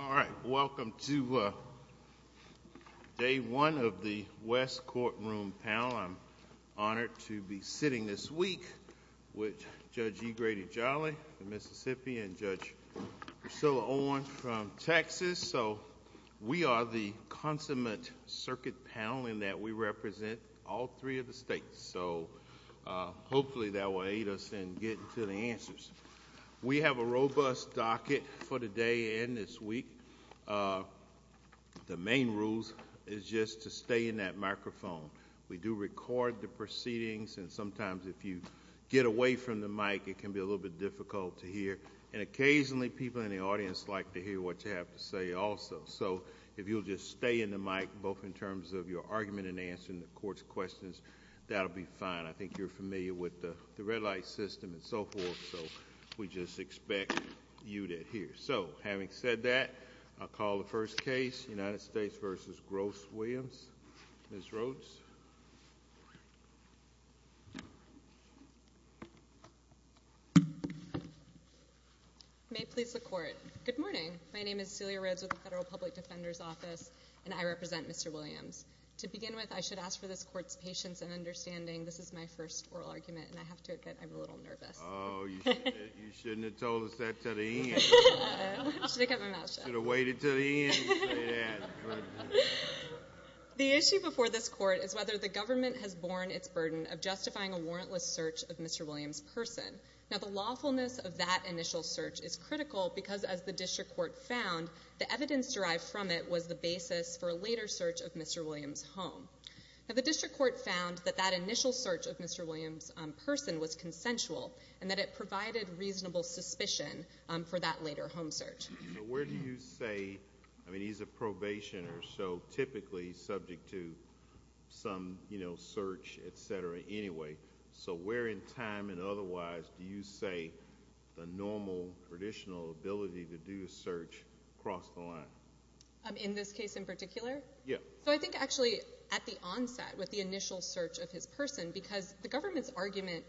All right. Welcome to day one of the West courtroom panel. I'm honored to be sitting this week with Judge E. Grady Jolly of Mississippi and Judge Priscilla Owen from Texas. So we are the consummate circuit panel in that we represent all three of the states. So hopefully that will aid us in getting to the answers. We have a robust docket for the day and this week. The main rules is just to stay in that microphone. We do record the proceedings and sometimes if you get away from the mic, it can be a little bit difficult to hear. And if you'll just stay in the mic, both in terms of your argument and answering the court's questions, that'll be fine. I think you're familiar with the red light system and so forth, so we just expect you to hear. So having said that, I'll call the first case, United States v. Gross Williams. Ms. Rhodes? May it please the court. Good morning. My name is Celia Rhodes with the Federal Public Defender's Office and I represent Mr. Williams. To begin with, I should ask for this court's patience and understanding. This is my first oral argument and I have to admit, I'm a little nervous. Oh, you shouldn't have told us that to the end. I should have kept my mouth shut. You should have waited to the end to say that. The issue before this court is whether the government has borne its burden of justifying a warrantless search of Mr. Williams' person. Now the lawfulness of that initial search is critical because as the district court found, the evidence derived from it was the basis for a later search of Mr. Williams' home. Now the district court found that that initial search of Mr. Williams' person was consensual and that it provided reasonable suspicion for that later home search. So where do you say, I mean he's a probationer, so typically subject to some, you know, search, etc., anyway. So where in time and otherwise do you say the normal, traditional ability to do a search crossed the line? In this case in particular? Yeah. So I think actually at the onset, with the initial search of his person, because the government's argument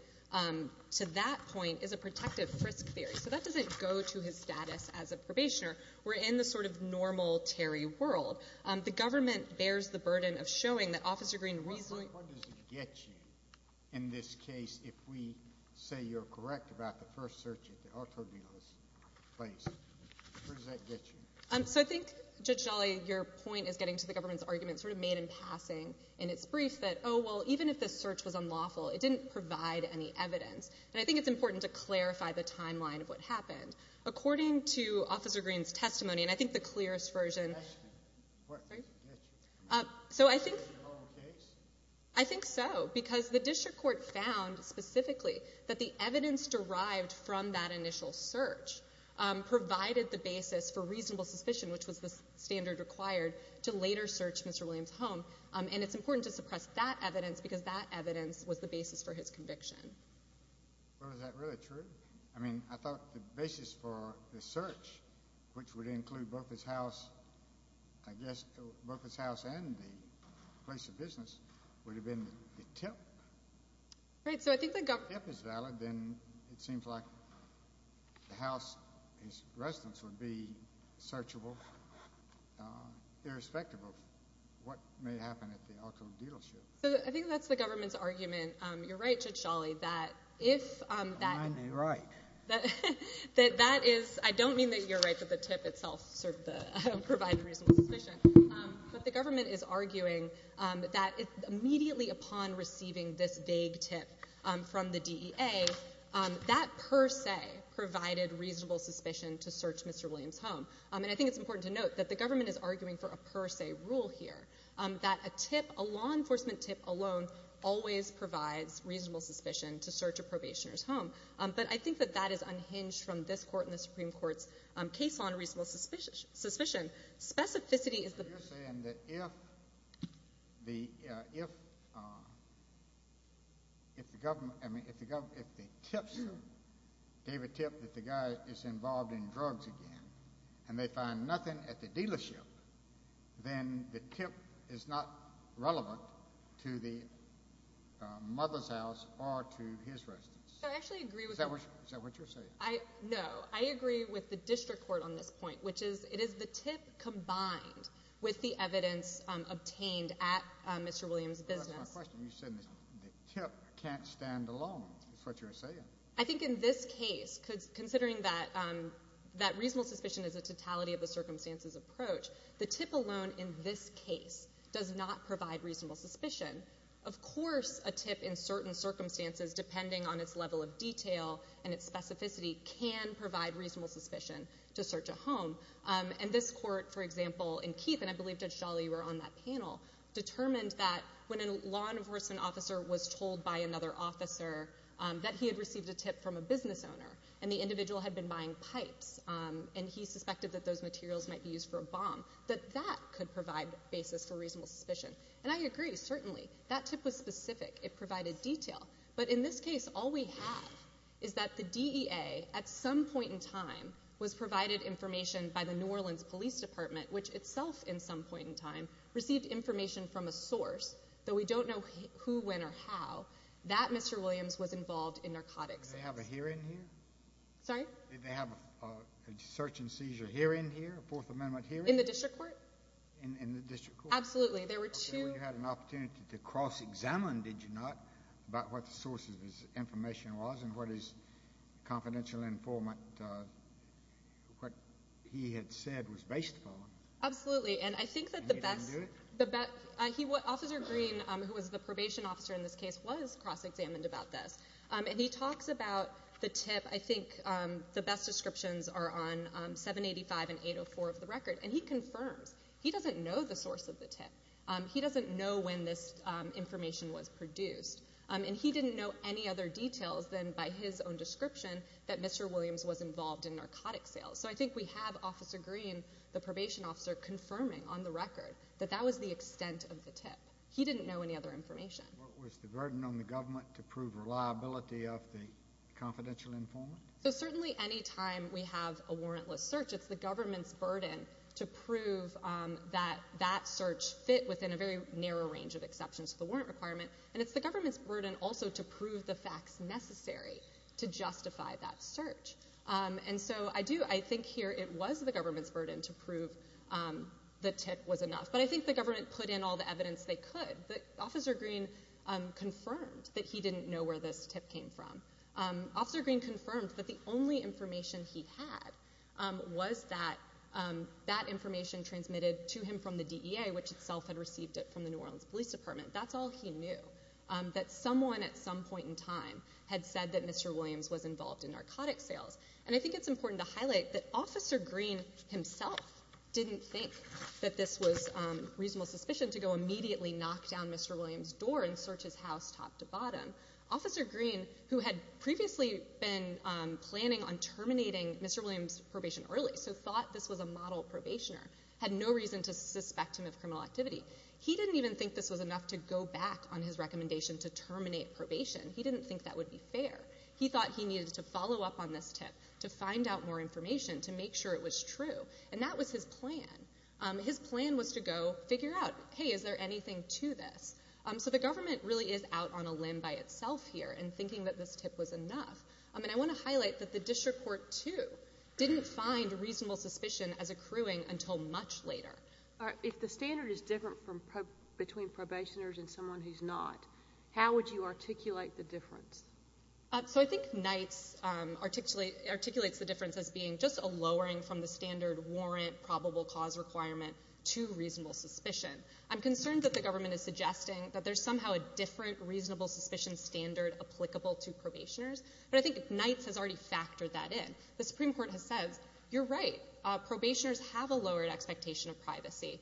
to that point is a protective frisk theory. So that doesn't go to his status as a probationer. We're in the sort of normal Terry world. The government bears the burden of showing that Officer Greene reasonably... In this case, if we say you're correct about the first search at the auto dealers' place, where does that get you? So I think, Judge Dolley, your point is getting to the government's argument sort of made in passing in its brief that, oh, well, even if this search was unlawful, it didn't provide any evidence. And I think it's important to clarify the timeline of what happened. According to Officer Greene's testimony, and I think the clearest version... Testimony? Sorry? What does it get you? So I think... Is it your own case? I think so, because the district court found specifically that the evidence derived from that initial search provided the basis for reasonable suspicion, which was the standard required to later search Mr. Williams' home. And it's important to suppress that evidence because that evidence was the basis for his conviction. Well, is that really true? I mean, I thought the basis for the search, which would include both his house, I guess, both his house and the place of business, would have been the tip. Right, so I think the... If the tip is valid, then it seems like the house, his residence, would be searchable, irrespective of what may happen at the auto dealership. So I think that's the government's argument. You're right, Judge Dolley, that if that... I may be right. I don't mean that you're right that the tip itself provided reasonable suspicion, but the government is arguing that immediately upon receiving this vague tip from the DEA, that per se provided reasonable suspicion to search Mr. Williams' home. And I think it's important to note that the government is arguing for a per se rule here, that a tip, a law enforcement tip alone, always provides reasonable suspicion to search a probationer's home. But I think that that is unhinged from this Court and the Supreme Court's case on reasonable suspicion. Specificity is the... You're saying that if the government... I mean, if the government... if they tip... gave a tip that the guy is involved in drugs again, and they find nothing at the dealership, then the tip is not relevant to the mother's house or to his residence. I actually agree with... Is that what you're saying? No. I agree with the District Court on this point, which is it is the tip combined with the evidence obtained at Mr. Williams' business. That's my question. You said the tip can't stand alone, is what you're saying. I think in this case, considering that reasonable suspicion is a totality of the circumstances approach, the tip alone in this case does not provide reasonable suspicion. Of course a tip in certain circumstances, depending on its level of detail and its specificity, can provide reasonable suspicion to search a home. And this Court, for example, in Keith, and I believe Judge Dhali were on that panel, determined that when a law enforcement officer was told by another officer that he had received a tip from a business owner, and the individual had been buying pipes, and he suspected that those materials might be used for a bomb, that that could provide basis for reasonable suspicion. And I agree, certainly. That tip was specific. It provided detail. But in this case, all we have is that the DEA, at some point in time, was provided information by the New Orleans Police Department, which itself, at some point in time, received information from a source, though we don't know who, when, or how. That Mr. Williams was involved in narcotics. Did they have a hearing here? Sorry? Did they have a search and seizure hearing here, a Fourth Amendment hearing? In the District Court? In the District Court. Absolutely. There were two... So you had an opportunity to cross-examine, did you not, about what the source of this information was, and what his confidential informant, what he had said was based upon. Absolutely. And I think that the best... And he didn't do it? Officer Green, who was the probation officer in this case, was cross-examined about this. And he talks about the tip. I think the best descriptions are on 785 and 804 of the record. And he confirms. He doesn't know the source of the tip. He doesn't know when this information was produced. And he didn't know any other details than by his own description that Mr. Williams was involved in narcotics sales. So I think we have Officer Green, the probation officer, confirming on the record that that was the extent of the tip. He didn't know any other information. Was the burden on the government to prove reliability of the confidential informant? So certainly any time we have a warrantless search, it's the government's burden to prove that that search fit within a very narrow range of exceptions to the warrant requirement. And it's the government's burden also to prove the facts necessary to justify that search. And so I do, I think here it was the government's burden to prove the tip was enough. But I think the government put in all the evidence they could. But Officer Green confirmed that he didn't know where this tip came from. Officer Green confirmed that the only information he had was that that information transmitted to him from the DEA, which itself had received it from the New Orleans Police Department. That's all he knew. That someone at some point in time had said that Mr. Williams was involved in narcotics sales. And I think it's important to highlight that Officer Green himself didn't think that this was reasonable suspicion to go immediately knock down Mr. Williams' door and search his house top to bottom. Officer Green, who had previously been planning on terminating Mr. Williams' probation early, so thought this was a model probationer, had no reason to suspect him of criminal activity. He didn't even think this was enough to go back on his recommendation to terminate probation. He didn't think that would be fair. He thought he needed to follow up on this tip to find out more information to make sure it was true. And that was his plan. His plan was to go and figure out, hey, is there anything to this? So the government really is out on a limb by itself here in thinking that this tip was enough. And I want to highlight that the district court, too, didn't find reasonable suspicion as accruing until much later. If the standard is different between probationers and someone who's not, how would you articulate the difference? So I think Knights articulates the difference as being just a lowering from the standard warrant probable cause requirement to reasonable suspicion. I'm concerned that the government is suggesting that there's somehow a different reasonable suspicion standard applicable to probationers. But I think Knights has already factored that in. The Supreme Court has said, you're right, probationers have a lowered expectation of privacy.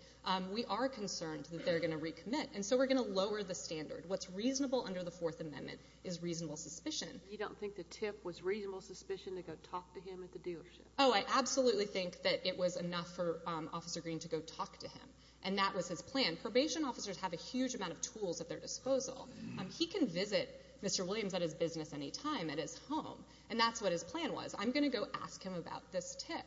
We are concerned that they're going to recommit. And so we're going to lower the standard. What's reasonable under the Fourth Amendment is reasonable suspicion. You don't think the tip was reasonable suspicion to go talk to him at the dealership? Oh, I absolutely think that it was enough for Officer Green to go talk to him. And that was his plan. Probation officers have a huge amount of tools at their disposal. He can visit Mr. Williams at his business any time at his home. And that's what his plan was. I'm going to go ask him about this tip.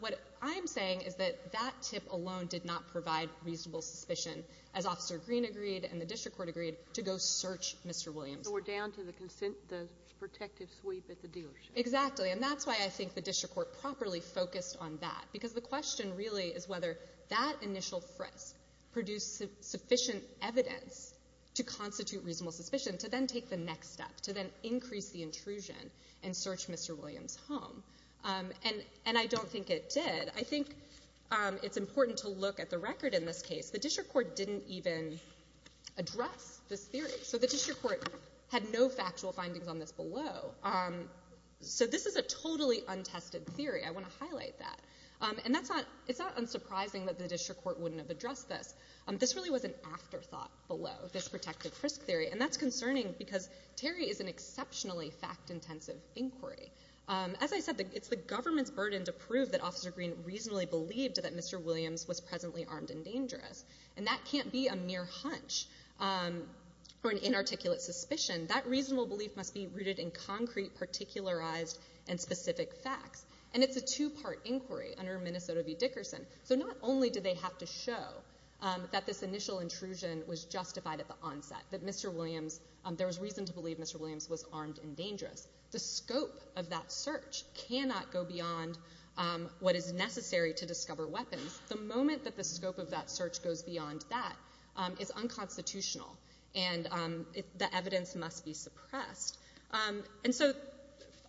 What I'm saying is that that tip alone did not provide reasonable suspicion as Officer Green agreed and the district court agreed to go search Mr. Williams. So we're down to the protective sweep at the dealership. Exactly. And that's why I think the district court properly focused on that. Because the question really is whether that initial frisk produced sufficient evidence to constitute reasonable suspicion to then take the next step, to then increase the intrusion and search Mr. Williams' home. And I don't think it did. I think it's important to look at the record in this case. The district court didn't even address this theory. So the district court had no factual findings on this below. So this is a totally untested theory. I want to highlight that. And it's not unsurprising that the district court wouldn't have addressed this. This really was an afterthought below, this protective frisk theory. And that's concerning because Terry is an exceptionally fact-intensive inquiry. As I said, it's the government's burden to prove that Officer Green reasonably believed that Mr. Williams was presently armed and dangerous. And that can't be a mere hunch or an inarticulate suspicion. That reasonable belief must be rooted in concrete, particularized, and specific facts. And it's a two-part inquiry under Minnesota v. Dickerson. So not only do they have to show that this initial intrusion was justified at the onset, that there was reason to believe Mr. Williams was armed and dangerous. The scope of that search cannot go beyond what is necessary to discover weapons. The moment that the scope of that search goes beyond that is unconstitutional. And the evidence must be suppressed. And so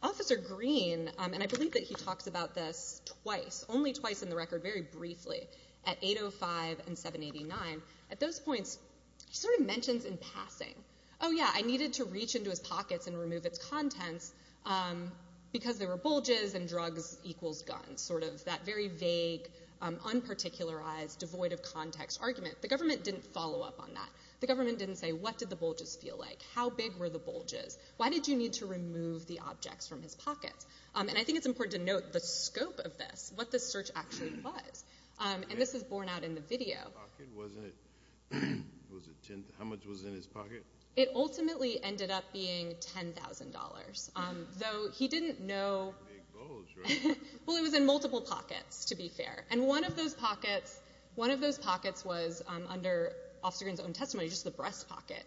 Officer Green, and I believe that he talks about this twice, only twice in the record, very briefly, at 805 and 789. At those points, he sort of mentions in passing, oh yeah, I needed to reach into his pockets and remove its contents because there were bulges and drugs equals guns. Sort of that very vague, unparticularized, devoid of context argument. The government didn't follow up on that. The government didn't say, what did the bulges feel like? How big were the bulges? Why did you need to remove the objects from his pockets? And I think it's important to note the scope of this, what the search actually was. And this is borne out in the video. How much was in his pocket? It ultimately ended up being $10,000, though he didn't know... Big bulge, right? Well, it was in multiple pockets, to be fair. And one of those pockets, one of those pockets was under Officer Green's own testimony, just the breast pocket.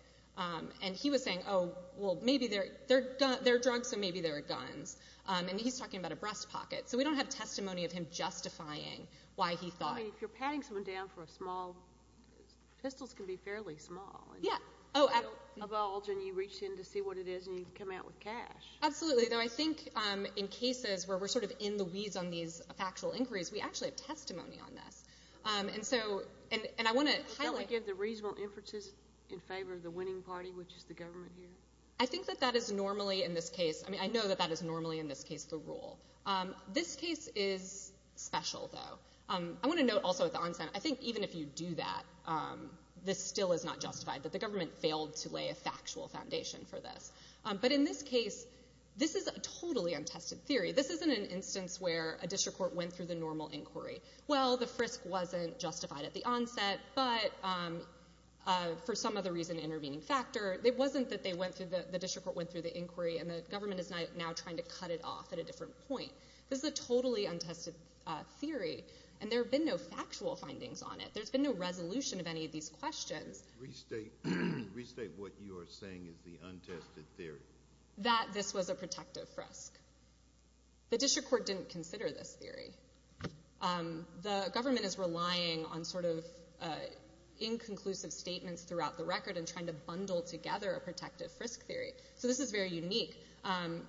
And he was saying, oh, well, maybe they're drugs, so maybe they're guns. And he's talking about a breast pocket. So we don't have testimony of him justifying why he thought... I mean, if you're patting someone down for a small... Pistols can be fairly small. Yeah. A bulge, and you reach in to see what it is, and you come out with cash. Absolutely, though I think in cases where we're sort of in the weeds on these factual inquiries, we actually have testimony on this. And so, and I want to... Don't we give the reasonable inferences in favor of the winning party, which is the government here? I think that that is normally, in this case, I mean, I know that that is normally, in this case, the rule. This case is special, though. I want to note also at the onset, I think even if you do that, this still is not justified, that the government failed to lay a factual foundation for this. But in this case, this is a totally untested theory. This isn't an instance where a district court went through the normal inquiry. Well, the frisk wasn't justified at the onset, but for some other reason, intervening factor, it wasn't that the district court went through the inquiry, and the government is now trying to cut it off at a different point. This is a totally untested theory, and there have been no factual findings on it. There's been no resolution of any of these questions. Restate what you are saying is the untested theory. That this was a protective frisk. The district court didn't consider this theory. The government is relying on sort of inconclusive statements throughout the record and trying to bundle together a protective frisk theory. So this is very unique.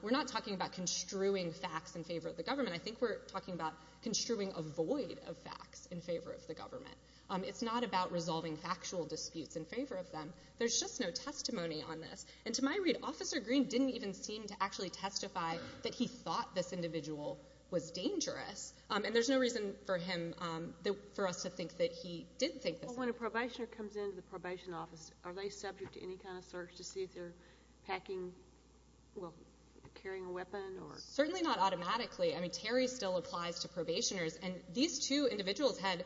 We're not talking about construing facts in favor of the government. I think we're talking about construing a void of facts in favor of the government. It's not about resolving factual disputes in favor of them. There's just no testimony on this. And to my read, Officer Green didn't even seem to actually testify that he thought this individual was dangerous. And there's no reason for him, for us to think that he did think this way. When a probationer comes into the probation office, are they subject to any kind of search to see if they're packing, well, carrying a weapon? Certainly not automatically. I mean, Terry still applies to probationers, and these two individuals had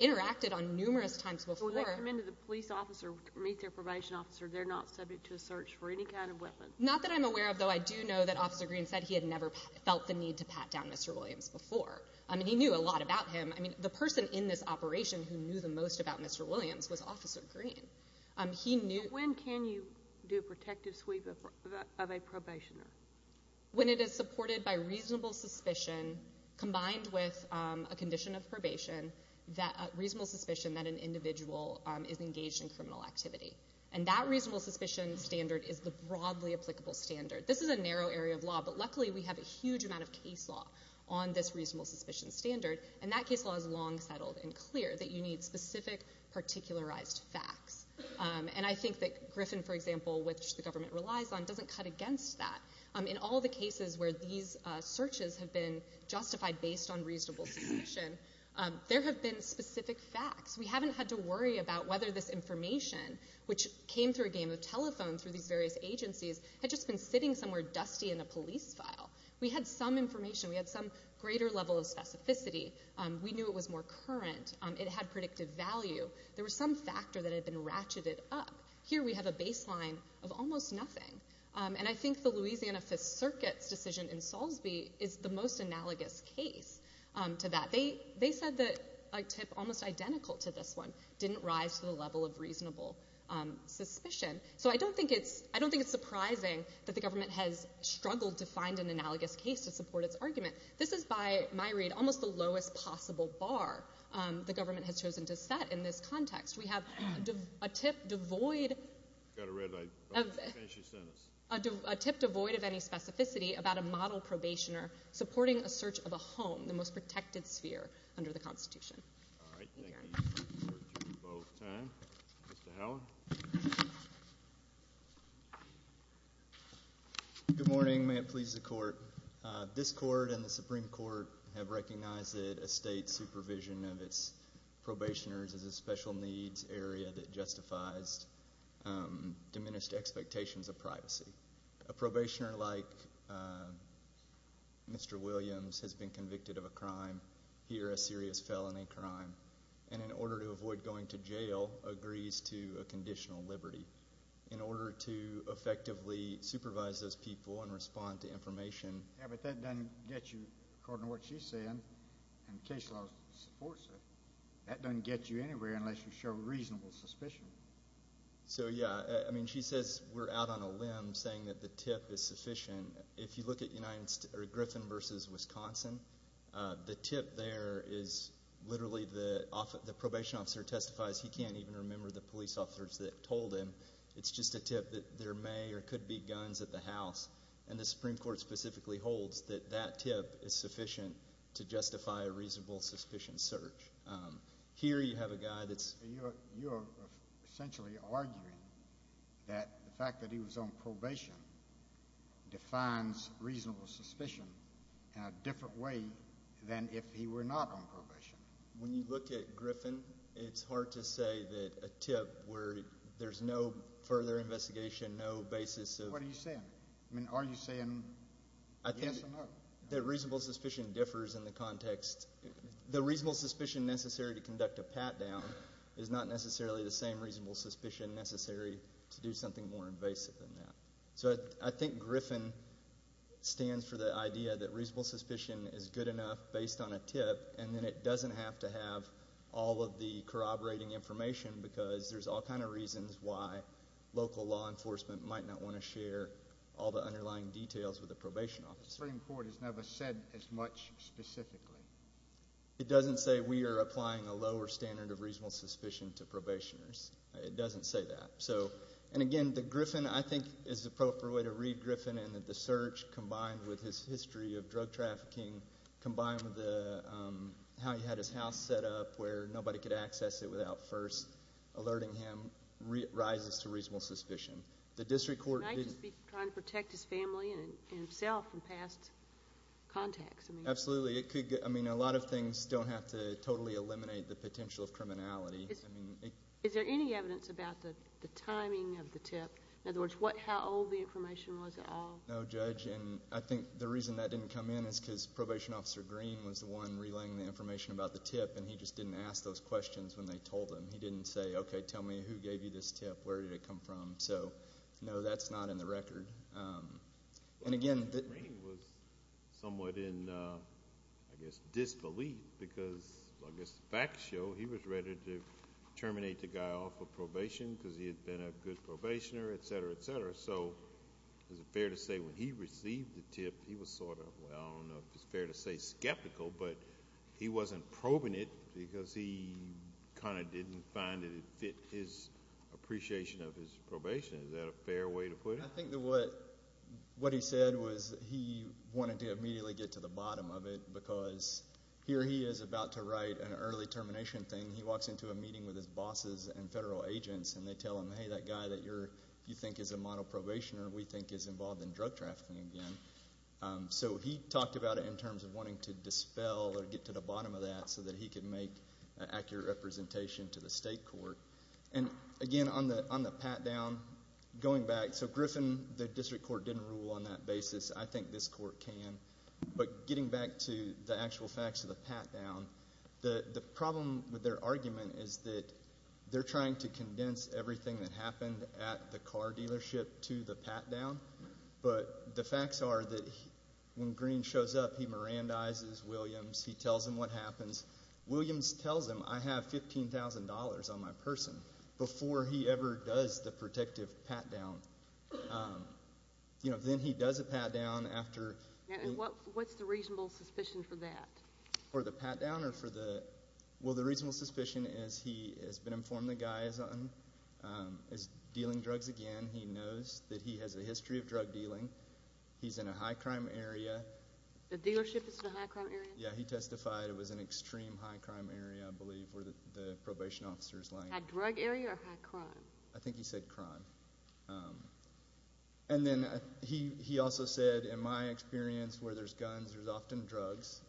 interacted on numerous times before. When they come into the police office or meet their probation officer, they're not subject to a search for any kind of weapon? Not that I'm aware of, though I do know that Officer Green said he had never felt the need to pat down Mr. Williams before. I mean, he knew a lot about him. I mean, the person in this operation who knew the most about Mr. Williams was Officer Green. He knew... When can you do a protective sweep of a probationer? When it is supported by reasonable suspicion, combined with a condition of probation, reasonable suspicion that an individual is engaged in criminal activity. And that reasonable suspicion standard is the broadly applicable standard. This is a narrow area of law, but luckily we have a huge amount of case law on this reasonable suspicion standard, and that case law is long settled and clear, that you need specific, particularized facts. And I think that Griffin, for example, which the government relies on, doesn't cut against that. In all the cases where these searches have been justified based on reasonable suspicion, there have been specific facts. We haven't had to worry about whether this information, which came through a game of telephone through these various agencies, had just been sitting somewhere dusty in a police file. We had some information. We had some greater level of specificity. We knew it was more current. It had predictive value. There was some factor that had been ratcheted up. Here we have a baseline of almost nothing. And I think the Louisiana Fifth Circuit's decision in Salisbury is the most analogous case to that. They said that a tip almost identical to this one didn't rise to the level of reasonable suspicion. So I don't think it's surprising that the government has struggled to find an analogous case to support its argument. This is, by my read, almost the lowest possible bar the government has chosen to set in this context. We have a tip devoid of any specificity about a model probationer supporting a search of a home, the most protected sphere under the Constitution. All right. Thank you for your time. Mr. Howell? Good morning. May it please the Court. This Court and the Supreme Court have recognized that a state's supervision of its probationers is a special needs area that justifies diminished expectations of privacy. A probationer like Mr. Williams has been convicted of a crime, here a serious felony crime, and in order to avoid going to jail, agrees to a conditional liberty. In order to effectively supervise those people and respond to information. Yeah, but that doesn't get you, according to what she's saying, and the case law supports it, that doesn't get you anywhere unless you show reasonable suspicion. So, yeah, I mean, she says we're out on a limb saying that the tip is sufficient. If you look at Griffin v. Wisconsin, the tip there is literally the probation officer testifies he can't even remember the police officers that told him. It's just a tip that there may or could be guns at the house, and the Supreme Court specifically holds that that tip is sufficient to justify a reasonable suspicion search. Here you have a guy that's... You're essentially arguing that the fact that he was on probation defines reasonable suspicion When you look at Griffin, it's hard to say that a tip where there's no further investigation, no basis of... What are you saying? I mean, are you saying yes or no? I think that reasonable suspicion differs in the context... The reasonable suspicion necessary to conduct a pat-down is not necessarily the same reasonable suspicion necessary to do something more invasive than that. So I think Griffin stands for the idea that reasonable suspicion is good enough based on a tip and then it doesn't have to have all of the corroborating information because there's all kinds of reasons why local law enforcement might not want to share all the underlying details with the probation officer. The Supreme Court has never said as much specifically. It doesn't say we are applying a lower standard of reasonable suspicion to probationers. It doesn't say that. And again, the Griffin, I think, is the appropriate way to read Griffin and that the search combined with his history of drug trafficking combined with how he had his house set up where nobody could access it without first alerting him rises to reasonable suspicion. The district court... He might just be trying to protect his family and himself from past contacts. Absolutely. I mean, a lot of things don't have to totally eliminate the potential of criminality. Is there any evidence about the timing of the tip? In other words, how old the information was at all? No, Judge, and I think the reason that didn't come in is because probation officer Green was the one relaying the information about the tip and he just didn't ask those questions when they told him. He didn't say, okay, tell me who gave you this tip, where did it come from? So, no, that's not in the record. And again... Green was somewhat in, I guess, disbelief because, I guess, facts show he was ready to terminate the guy off of probation because he had been a good probationer, et cetera, et cetera. So is it fair to say when he received the tip he was sort of, well, I don't know if it's fair to say skeptical, but he wasn't probing it because he kind of didn't find that it fit his appreciation of his probation. Is that a fair way to put it? I think that what he said was he wanted to immediately get to the bottom of it because here he is about to write an early termination thing. He walks into a meeting with his bosses and federal agents and they tell him, hey, that guy that you think is a model probationer we think is involved in drug trafficking again. So he talked about it in terms of wanting to dispel or get to the bottom of that so that he could make an accurate representation to the state court. And, again, on the pat-down, going back, so Griffin, the district court, didn't rule on that basis. I think this court can. But getting back to the actual facts of the pat-down, the problem with their argument is that they're trying to condense everything that happened at the car dealership to the pat-down. But the facts are that when Green shows up, he Mirandizes Williams. He tells him what happens. Williams tells him I have $15,000 on my person before he ever does the protective pat-down. Then he does a pat-down after. What's the reasonable suspicion for that? For the pat-down or for the? Well, the reasonable suspicion is he has been informed the guy is dealing drugs again. He knows that he has a history of drug dealing. He's in a high-crime area. The dealership is in a high-crime area? Yeah, he testified it was an extreme high-crime area, I believe, where the probation officer is lying. High-drug area or high-crime? I think he said crime. Then he also said, in my experience, where there's guns, there's often drugs,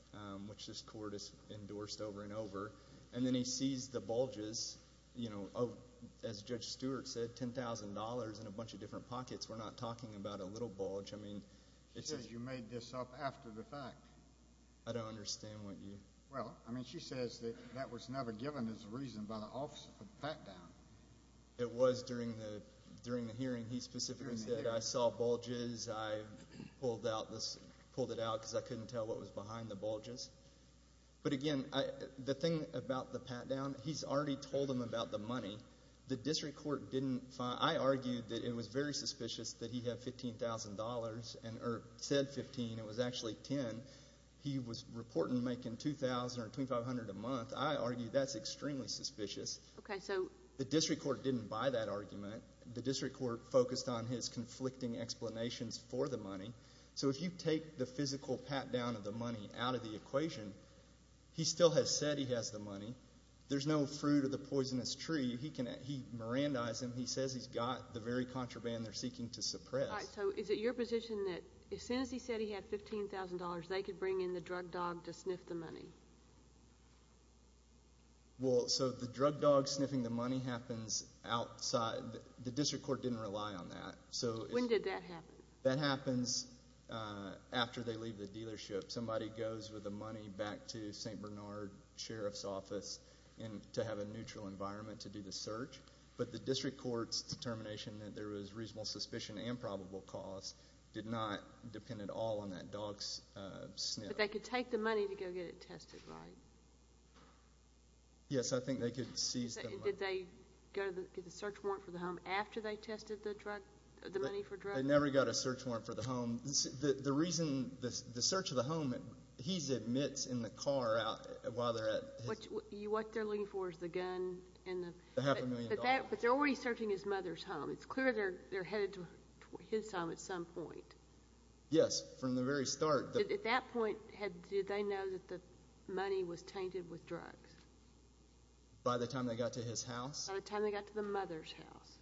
which this court has endorsed over and over. Then he sees the bulges, as Judge Stewart said, $10,000 in a bunch of different pockets. We're not talking about a little bulge. She says you made this up after the fact. I don't understand what you. Well, I mean she says that that was never given as a reason by the officer for the pat-down. It was during the hearing. He specifically said, I saw bulges. I pulled it out because I couldn't tell what was behind the bulges. But, again, the thing about the pat-down, he's already told them about the money. The district court didn't. I argued that it was very suspicious that he had $15,000 or said $15,000. It was actually $10,000. He was reporting to make $2,000 or $2,500 a month. I argue that's extremely suspicious. Okay, so. The district court didn't buy that argument. The district court focused on his conflicting explanations for the money. So if you take the physical pat-down of the money out of the equation, he still has said he has the money. There's no fruit of the poisonous tree. He mirandized him. He says he's got the very contraband they're seeking to suppress. All right, so is it your position that as soon as he said he had $15,000, they could bring in the drug dog to sniff the money? Well, so the drug dog sniffing the money happens outside. The district court didn't rely on that. When did that happen? That happens after they leave the dealership. Somebody goes with the money back to St. Bernard Sheriff's Office to have a neutral environment to do the search. But the district court's determination that there was reasonable suspicion and probable cause did not depend at all on that dog's sniff. But they could take the money to go get it tested, right? Yes, I think they could seize the money. Did they get the search warrant for the home after they tested the money for drugs? They never got a search warrant for the home. The reason the search of the home, he admits in the car while they're at his... What they're looking for is the gun. But they're already searching his mother's home. It's clear they're headed to his home at some point. Yes, from the very start. At that point, did they know that the money was tainted with drugs? By the time they got to his house? By the time they got to the mother's house.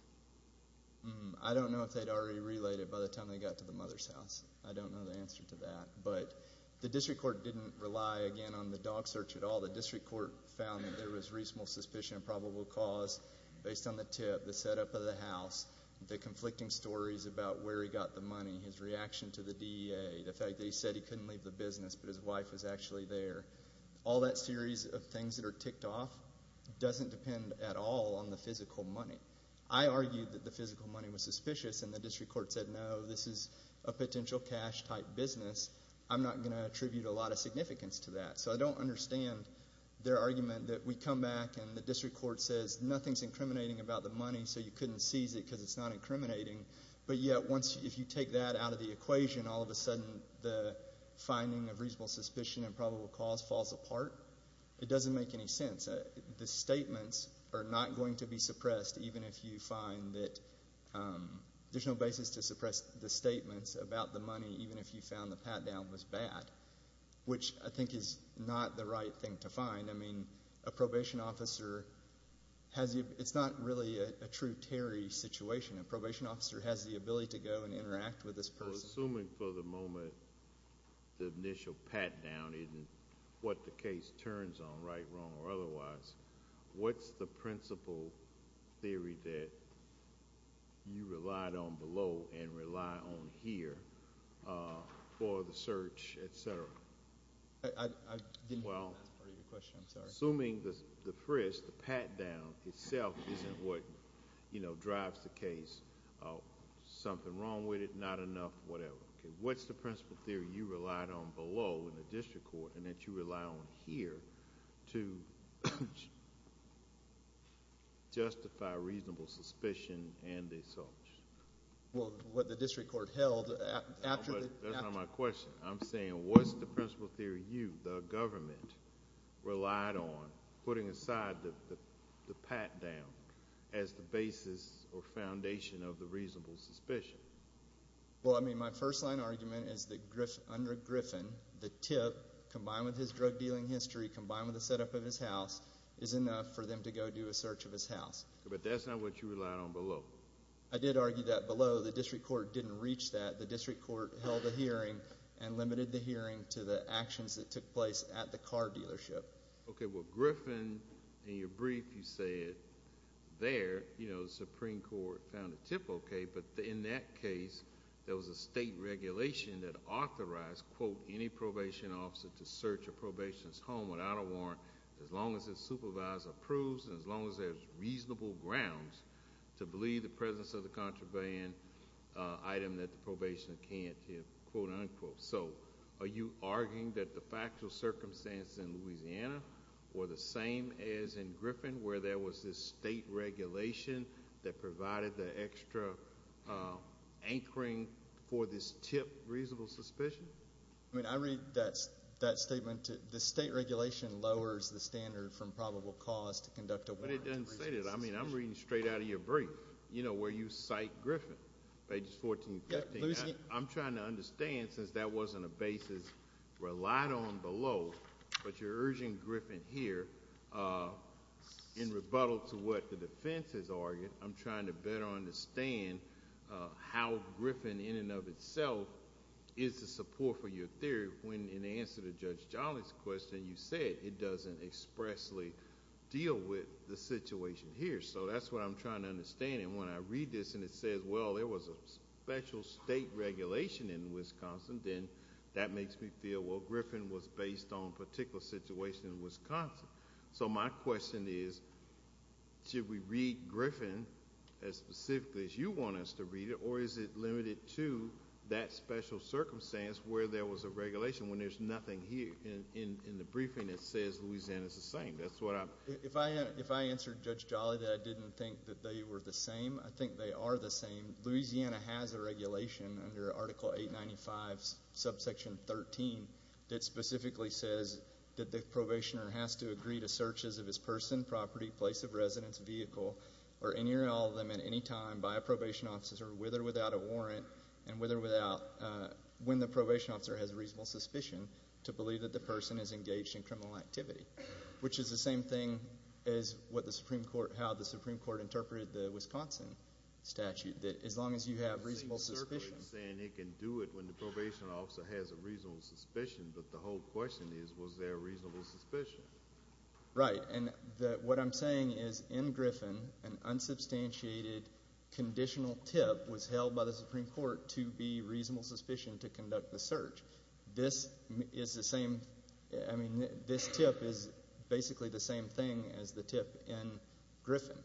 I don't know if they'd already relayed it by the time they got to the mother's house. I don't know the answer to that. But the district court didn't rely, again, on the dog search at all. The district court found that there was reasonable suspicion of probable cause based on the tip, the setup of the house, the conflicting stories about where he got the money, his reaction to the DEA, the fact that he said he couldn't leave the business but his wife was actually there. All that series of things that are ticked off doesn't depend at all on the physical money. I argued that the physical money was suspicious, and the district court said, no, this is a potential cash-type business. I'm not going to attribute a lot of significance to that. So I don't understand their argument that we come back and the district court says nothing's incriminating about the money so you couldn't seize it because it's not incriminating, but yet if you take that out of the equation, all of a sudden the finding of reasonable suspicion and probable cause falls apart. It doesn't make any sense. The statements are not going to be suppressed even if you find that there's no basis to suppress the statements about the money even if you found the pat-down was bad, which I think is not the right thing to find. I mean, a probation officer has the – it's not really a true Terry situation. A probation officer has the ability to go and interact with this person. Well, assuming for the moment the initial pat-down isn't what the case turns on, right, wrong, or otherwise, what's the principal theory that you relied on below and rely on here for the search, et cetera? I didn't hear that as part of your question. I'm sorry. Well, assuming the frisk, the pat-down itself isn't what drives the case, something wrong with it, not enough, whatever. Okay, what's the principal theory you relied on below in the district court and that you rely on here to justify reasonable suspicion and the search? Well, what the district court held after the – That's not my question. I'm saying what's the principal theory you, the government, relied on putting aside the pat-down as the basis or foundation of the reasonable suspicion? Well, I mean my first-line argument is that under Griffin, the tip, combined with his drug-dealing history, combined with the setup of his house, is enough for them to go do a search of his house. But that's not what you relied on below. I did argue that below the district court didn't reach that. The district court held a hearing and limited the hearing to the actions that took place at the car dealership. Okay, well, Griffin, in your brief, you said there, you know, the Supreme Court found the tip okay, but in that case, there was a state regulation that authorized, quote, any probation officer to search a probationist's home without a warrant as long as the supervisor approves and as long as there's reasonable grounds to believe the presence of the contraband item that the probationist can't tip, quote, unquote. So are you arguing that the factual circumstances in Louisiana were the same as in Griffin, where there was this state regulation that provided the extra anchoring for this tip reasonable suspicion? I mean, I read that statement, the state regulation lowers the standard from probable cause to conduct a warrant. But it doesn't say that. I mean, I'm reading straight out of your brief, you know, where you cite Griffin, pages 14 and 15. I'm trying to understand, since that wasn't a basis relied on below, but you're urging Griffin here in rebuttal to what the defense has argued. I'm trying to better understand how Griffin in and of itself is the support for your theory when in answer to Judge Jolly's question, you said it doesn't expressly deal with the situation here. So that's what I'm trying to understand. And when I read this and it says, well, there was a special state regulation in Wisconsin, then that makes me feel, well, Griffin was based on a particular situation in Wisconsin. So my question is, should we read Griffin as specifically as you want us to read it, or is it limited to that special circumstance where there was a regulation when there's nothing here in the briefing that says Louisiana's the same? If I answered Judge Jolly that I didn't think that they were the same, I think they are the same. Louisiana has a regulation under Article 895 subsection 13 that specifically says that the probationer has to agree to searches of his person, property, place of residence, vehicle, or any or all of them at any time by a probation officer with or without a warrant, and with or without – when the probation officer has a reasonable suspicion to believe that the person is engaged in criminal activity, which is the same thing as what the Supreme Court – how the Supreme Court interpreted the Wisconsin statute, that as long as you have reasonable suspicions – It seems certain in saying it can do it when the probation officer has a reasonable suspicion, but the whole question is, was there a reasonable suspicion? Right, and what I'm saying is in Griffin an unsubstantiated conditional tip was held by the Supreme Court to be reasonable suspicion to conduct the search. This is the same – I mean this tip is basically the same thing as the tip in Griffin.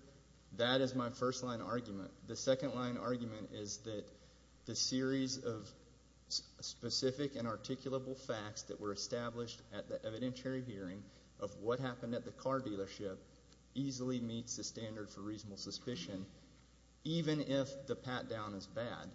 That is my first line argument. The second line argument is that the series of specific and articulable facts that were established at the evidentiary hearing of what happened at the car dealership easily meets the standard for reasonable suspicion, even if the pat-down is bad.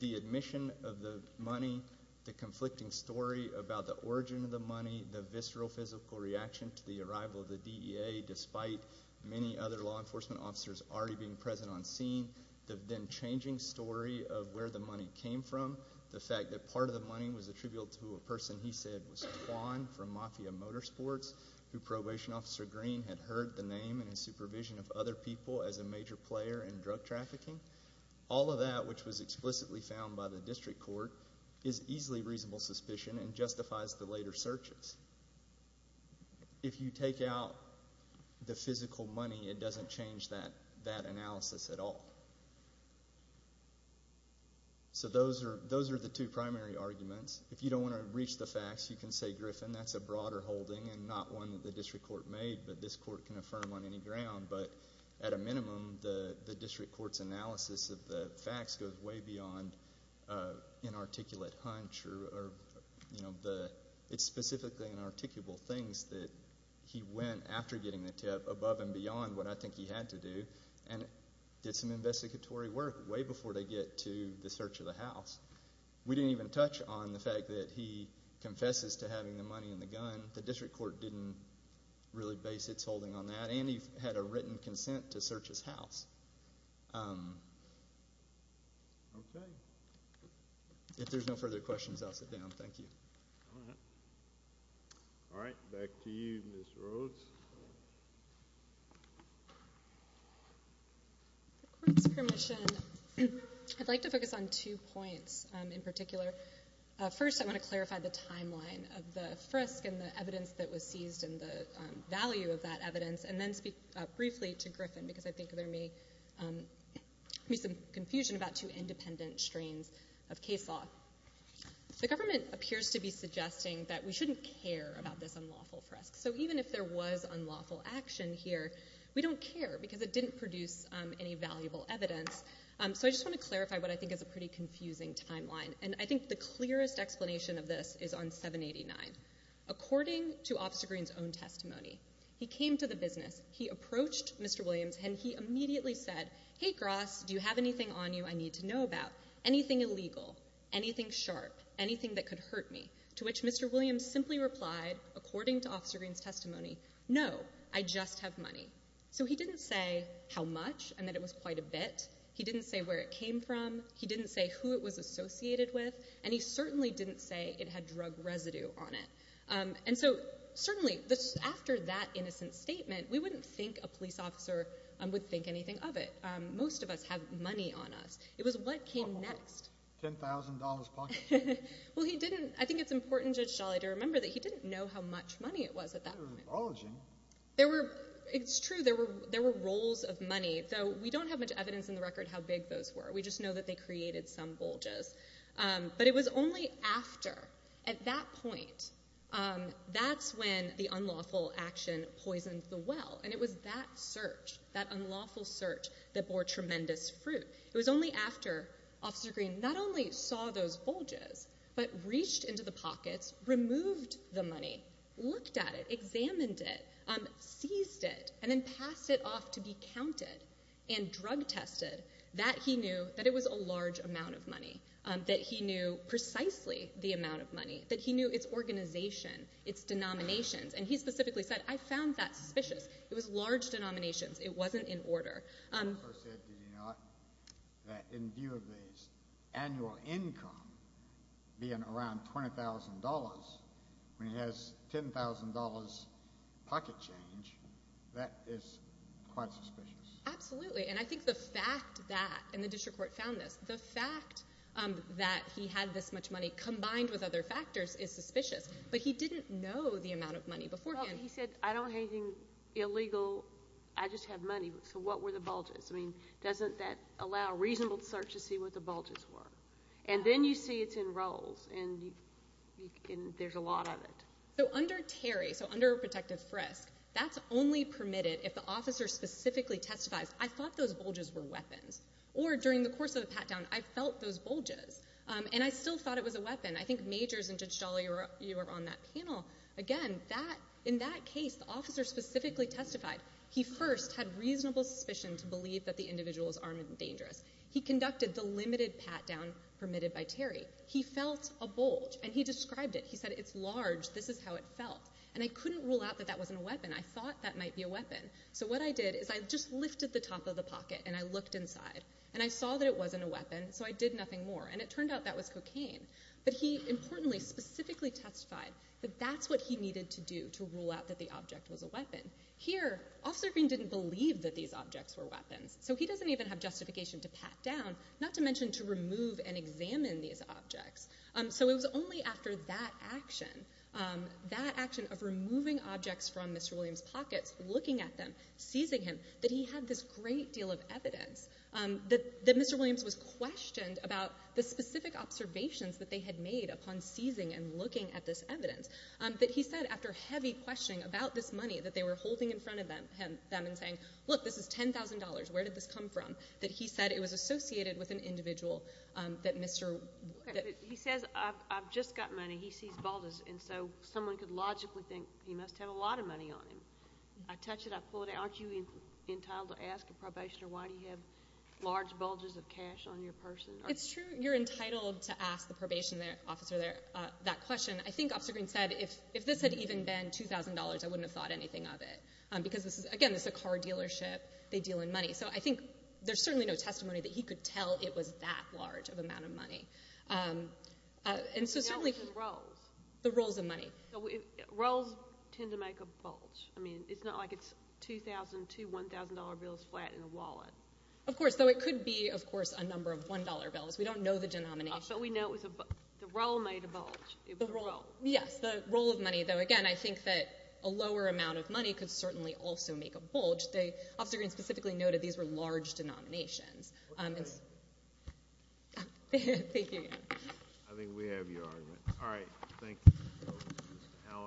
The admission of the money, the conflicting story about the origin of the money, the visceral physical reaction to the arrival of the DEA despite many other law enforcement officers already being present on scene, the then changing story of where the money came from, the fact that part of the money was attributable to a person he said was Kwan from Mafia Motorsports, who Probation Officer Green had heard the name and his supervision of other people as a major player in drug trafficking. All of that, which was explicitly found by the district court, is easily reasonable suspicion and justifies the later searches. If you take out the physical money, it doesn't change that analysis at all. So those are the two primary arguments. If you don't want to reach the facts, you can say Griffin, that's a broader holding and not one that the district court made, but this court can affirm on any ground. But at a minimum, the district court's analysis of the facts goes way beyond inarticulate hunch or the – it's specifically inarticulable things that he went, after getting the tip, above and beyond what I think he had to do and did some investigatory work way before they get to the search of the house. We didn't even touch on the fact that he confesses to having the money in the gun. The district court didn't really base its holding on that, and he had a written consent to search his house. If there's no further questions, I'll sit down. Thank you. All right. Back to you, Ms. Rhodes. With the court's permission, I'd like to focus on two points in particular. First, I want to clarify the timeline of the frisk and the evidence that was seized and the value of that evidence, and then speak briefly to Griffin, because I think there may be some confusion about two independent strains of case law. The government appears to be suggesting that we shouldn't care about this unlawful frisk. So even if there was unlawful action here, we don't care because it didn't produce any valuable evidence. So I just want to clarify what I think is a pretty confusing timeline, and I think the clearest explanation of this is on 789. According to Officer Green's own testimony, he came to the business, he approached Mr. Williams, and he immediately said, Hey, Gross, do you have anything on you I need to know about, anything illegal, anything sharp, anything that could hurt me? To which Mr. Williams simply replied, according to Officer Green's testimony, no, I just have money. So he didn't say how much and that it was quite a bit. He didn't say where it came from. He didn't say who it was associated with. And he certainly didn't say it had drug residue on it. And so certainly, after that innocent statement, we wouldn't think a police officer would think anything of it. Most of us have money on us. It was what came next. $10,000 pocket change. Well, he didn't. I think it's important, Judge Sholley, to remember that he didn't know how much money it was at that point. It's true. There were rolls of money, though we don't have much evidence in the record how big those were. We just know that they created some bulges. But it was only after, at that point, that's when the unlawful action poisoned the well. And it was that search, that unlawful search, that bore tremendous fruit. It was only after Officer Green not only saw those bulges but reached into the pockets, removed the money, looked at it, examined it, seized it, and then passed it off to be counted and drug tested that he knew that it was a large amount of money, that he knew precisely the amount of money, that he knew its organization, its denominations. And he specifically said, I found that suspicious. It was large denominations. It wasn't in order. He also said, did you know, that in view of his annual income being around $20,000, when he has $10,000 pocket change, that is quite suspicious. Absolutely. And I think the fact that, and the district court found this, the fact that he had this much money combined with other factors is suspicious. But he didn't know the amount of money beforehand. Well, he said, I don't have anything illegal. I just have money. So what were the bulges? I mean, doesn't that allow a reasonable search to see what the bulges were? And then you see it's in rolls, and there's a lot of it. So under Terry, so under protective frisk, that's only permitted if the officer specifically testifies, I thought those bulges were weapons. Or during the course of the pat-down, I felt those bulges. And I still thought it was a weapon. I think Majors and Judge Dolly, you were on that panel. Again, in that case, the officer specifically testified. He first had reasonable suspicion to believe that the individual was armed and dangerous. He conducted the limited pat-down permitted by Terry. He felt a bulge, and he described it. He said, it's large. This is how it felt. And I couldn't rule out that that wasn't a weapon. I thought that might be a weapon. So what I did is I just lifted the top of the pocket, and I looked inside. And I saw that it wasn't a weapon, so I did nothing more. And it turned out that was cocaine. But he, importantly, specifically testified that that's what he needed to do to rule out that the object was a weapon. Here, Officer Green didn't believe that these objects were weapons. So he doesn't even have justification to pat down, not to mention to remove and examine these objects. So it was only after that action, that action of removing objects from Mr. Williams' pockets, looking at them, seizing him, that he had this great deal of evidence that Mr. Williams was questioned about the specific observations that they had made upon seizing and looking at this evidence, that he said, after heavy questioning about this money that they were holding in front of them and saying, look, this is $10,000, where did this come from, that he said it was associated with an individual that Mr. He says, I've just got money. He sees Baldas. And so someone could logically think he must have a lot of money on him. I touch it. Aren't you entitled to ask a probationer, why do you have large bulges of cash on your person? It's true. You're entitled to ask the probation officer that question. I think Officer Green said, if this had even been $2,000, I wouldn't have thought anything of it. Because, again, this is a car dealership. They deal in money. So I think there's certainly no testimony that he could tell it was that large of an amount of money. Roles tend to make a bulge. I mean, it's not like it's $2,000 to $1,000 bills flat in a wallet. Of course. Though it could be, of course, a number of $1 bills. We don't know the denomination. But we know the role made a bulge. Yes. The role of money, though, again, I think that a lower amount of money could certainly also make a bulge. Officer Green specifically noted these were large denominations. I think we have your argument. All right. Thank you.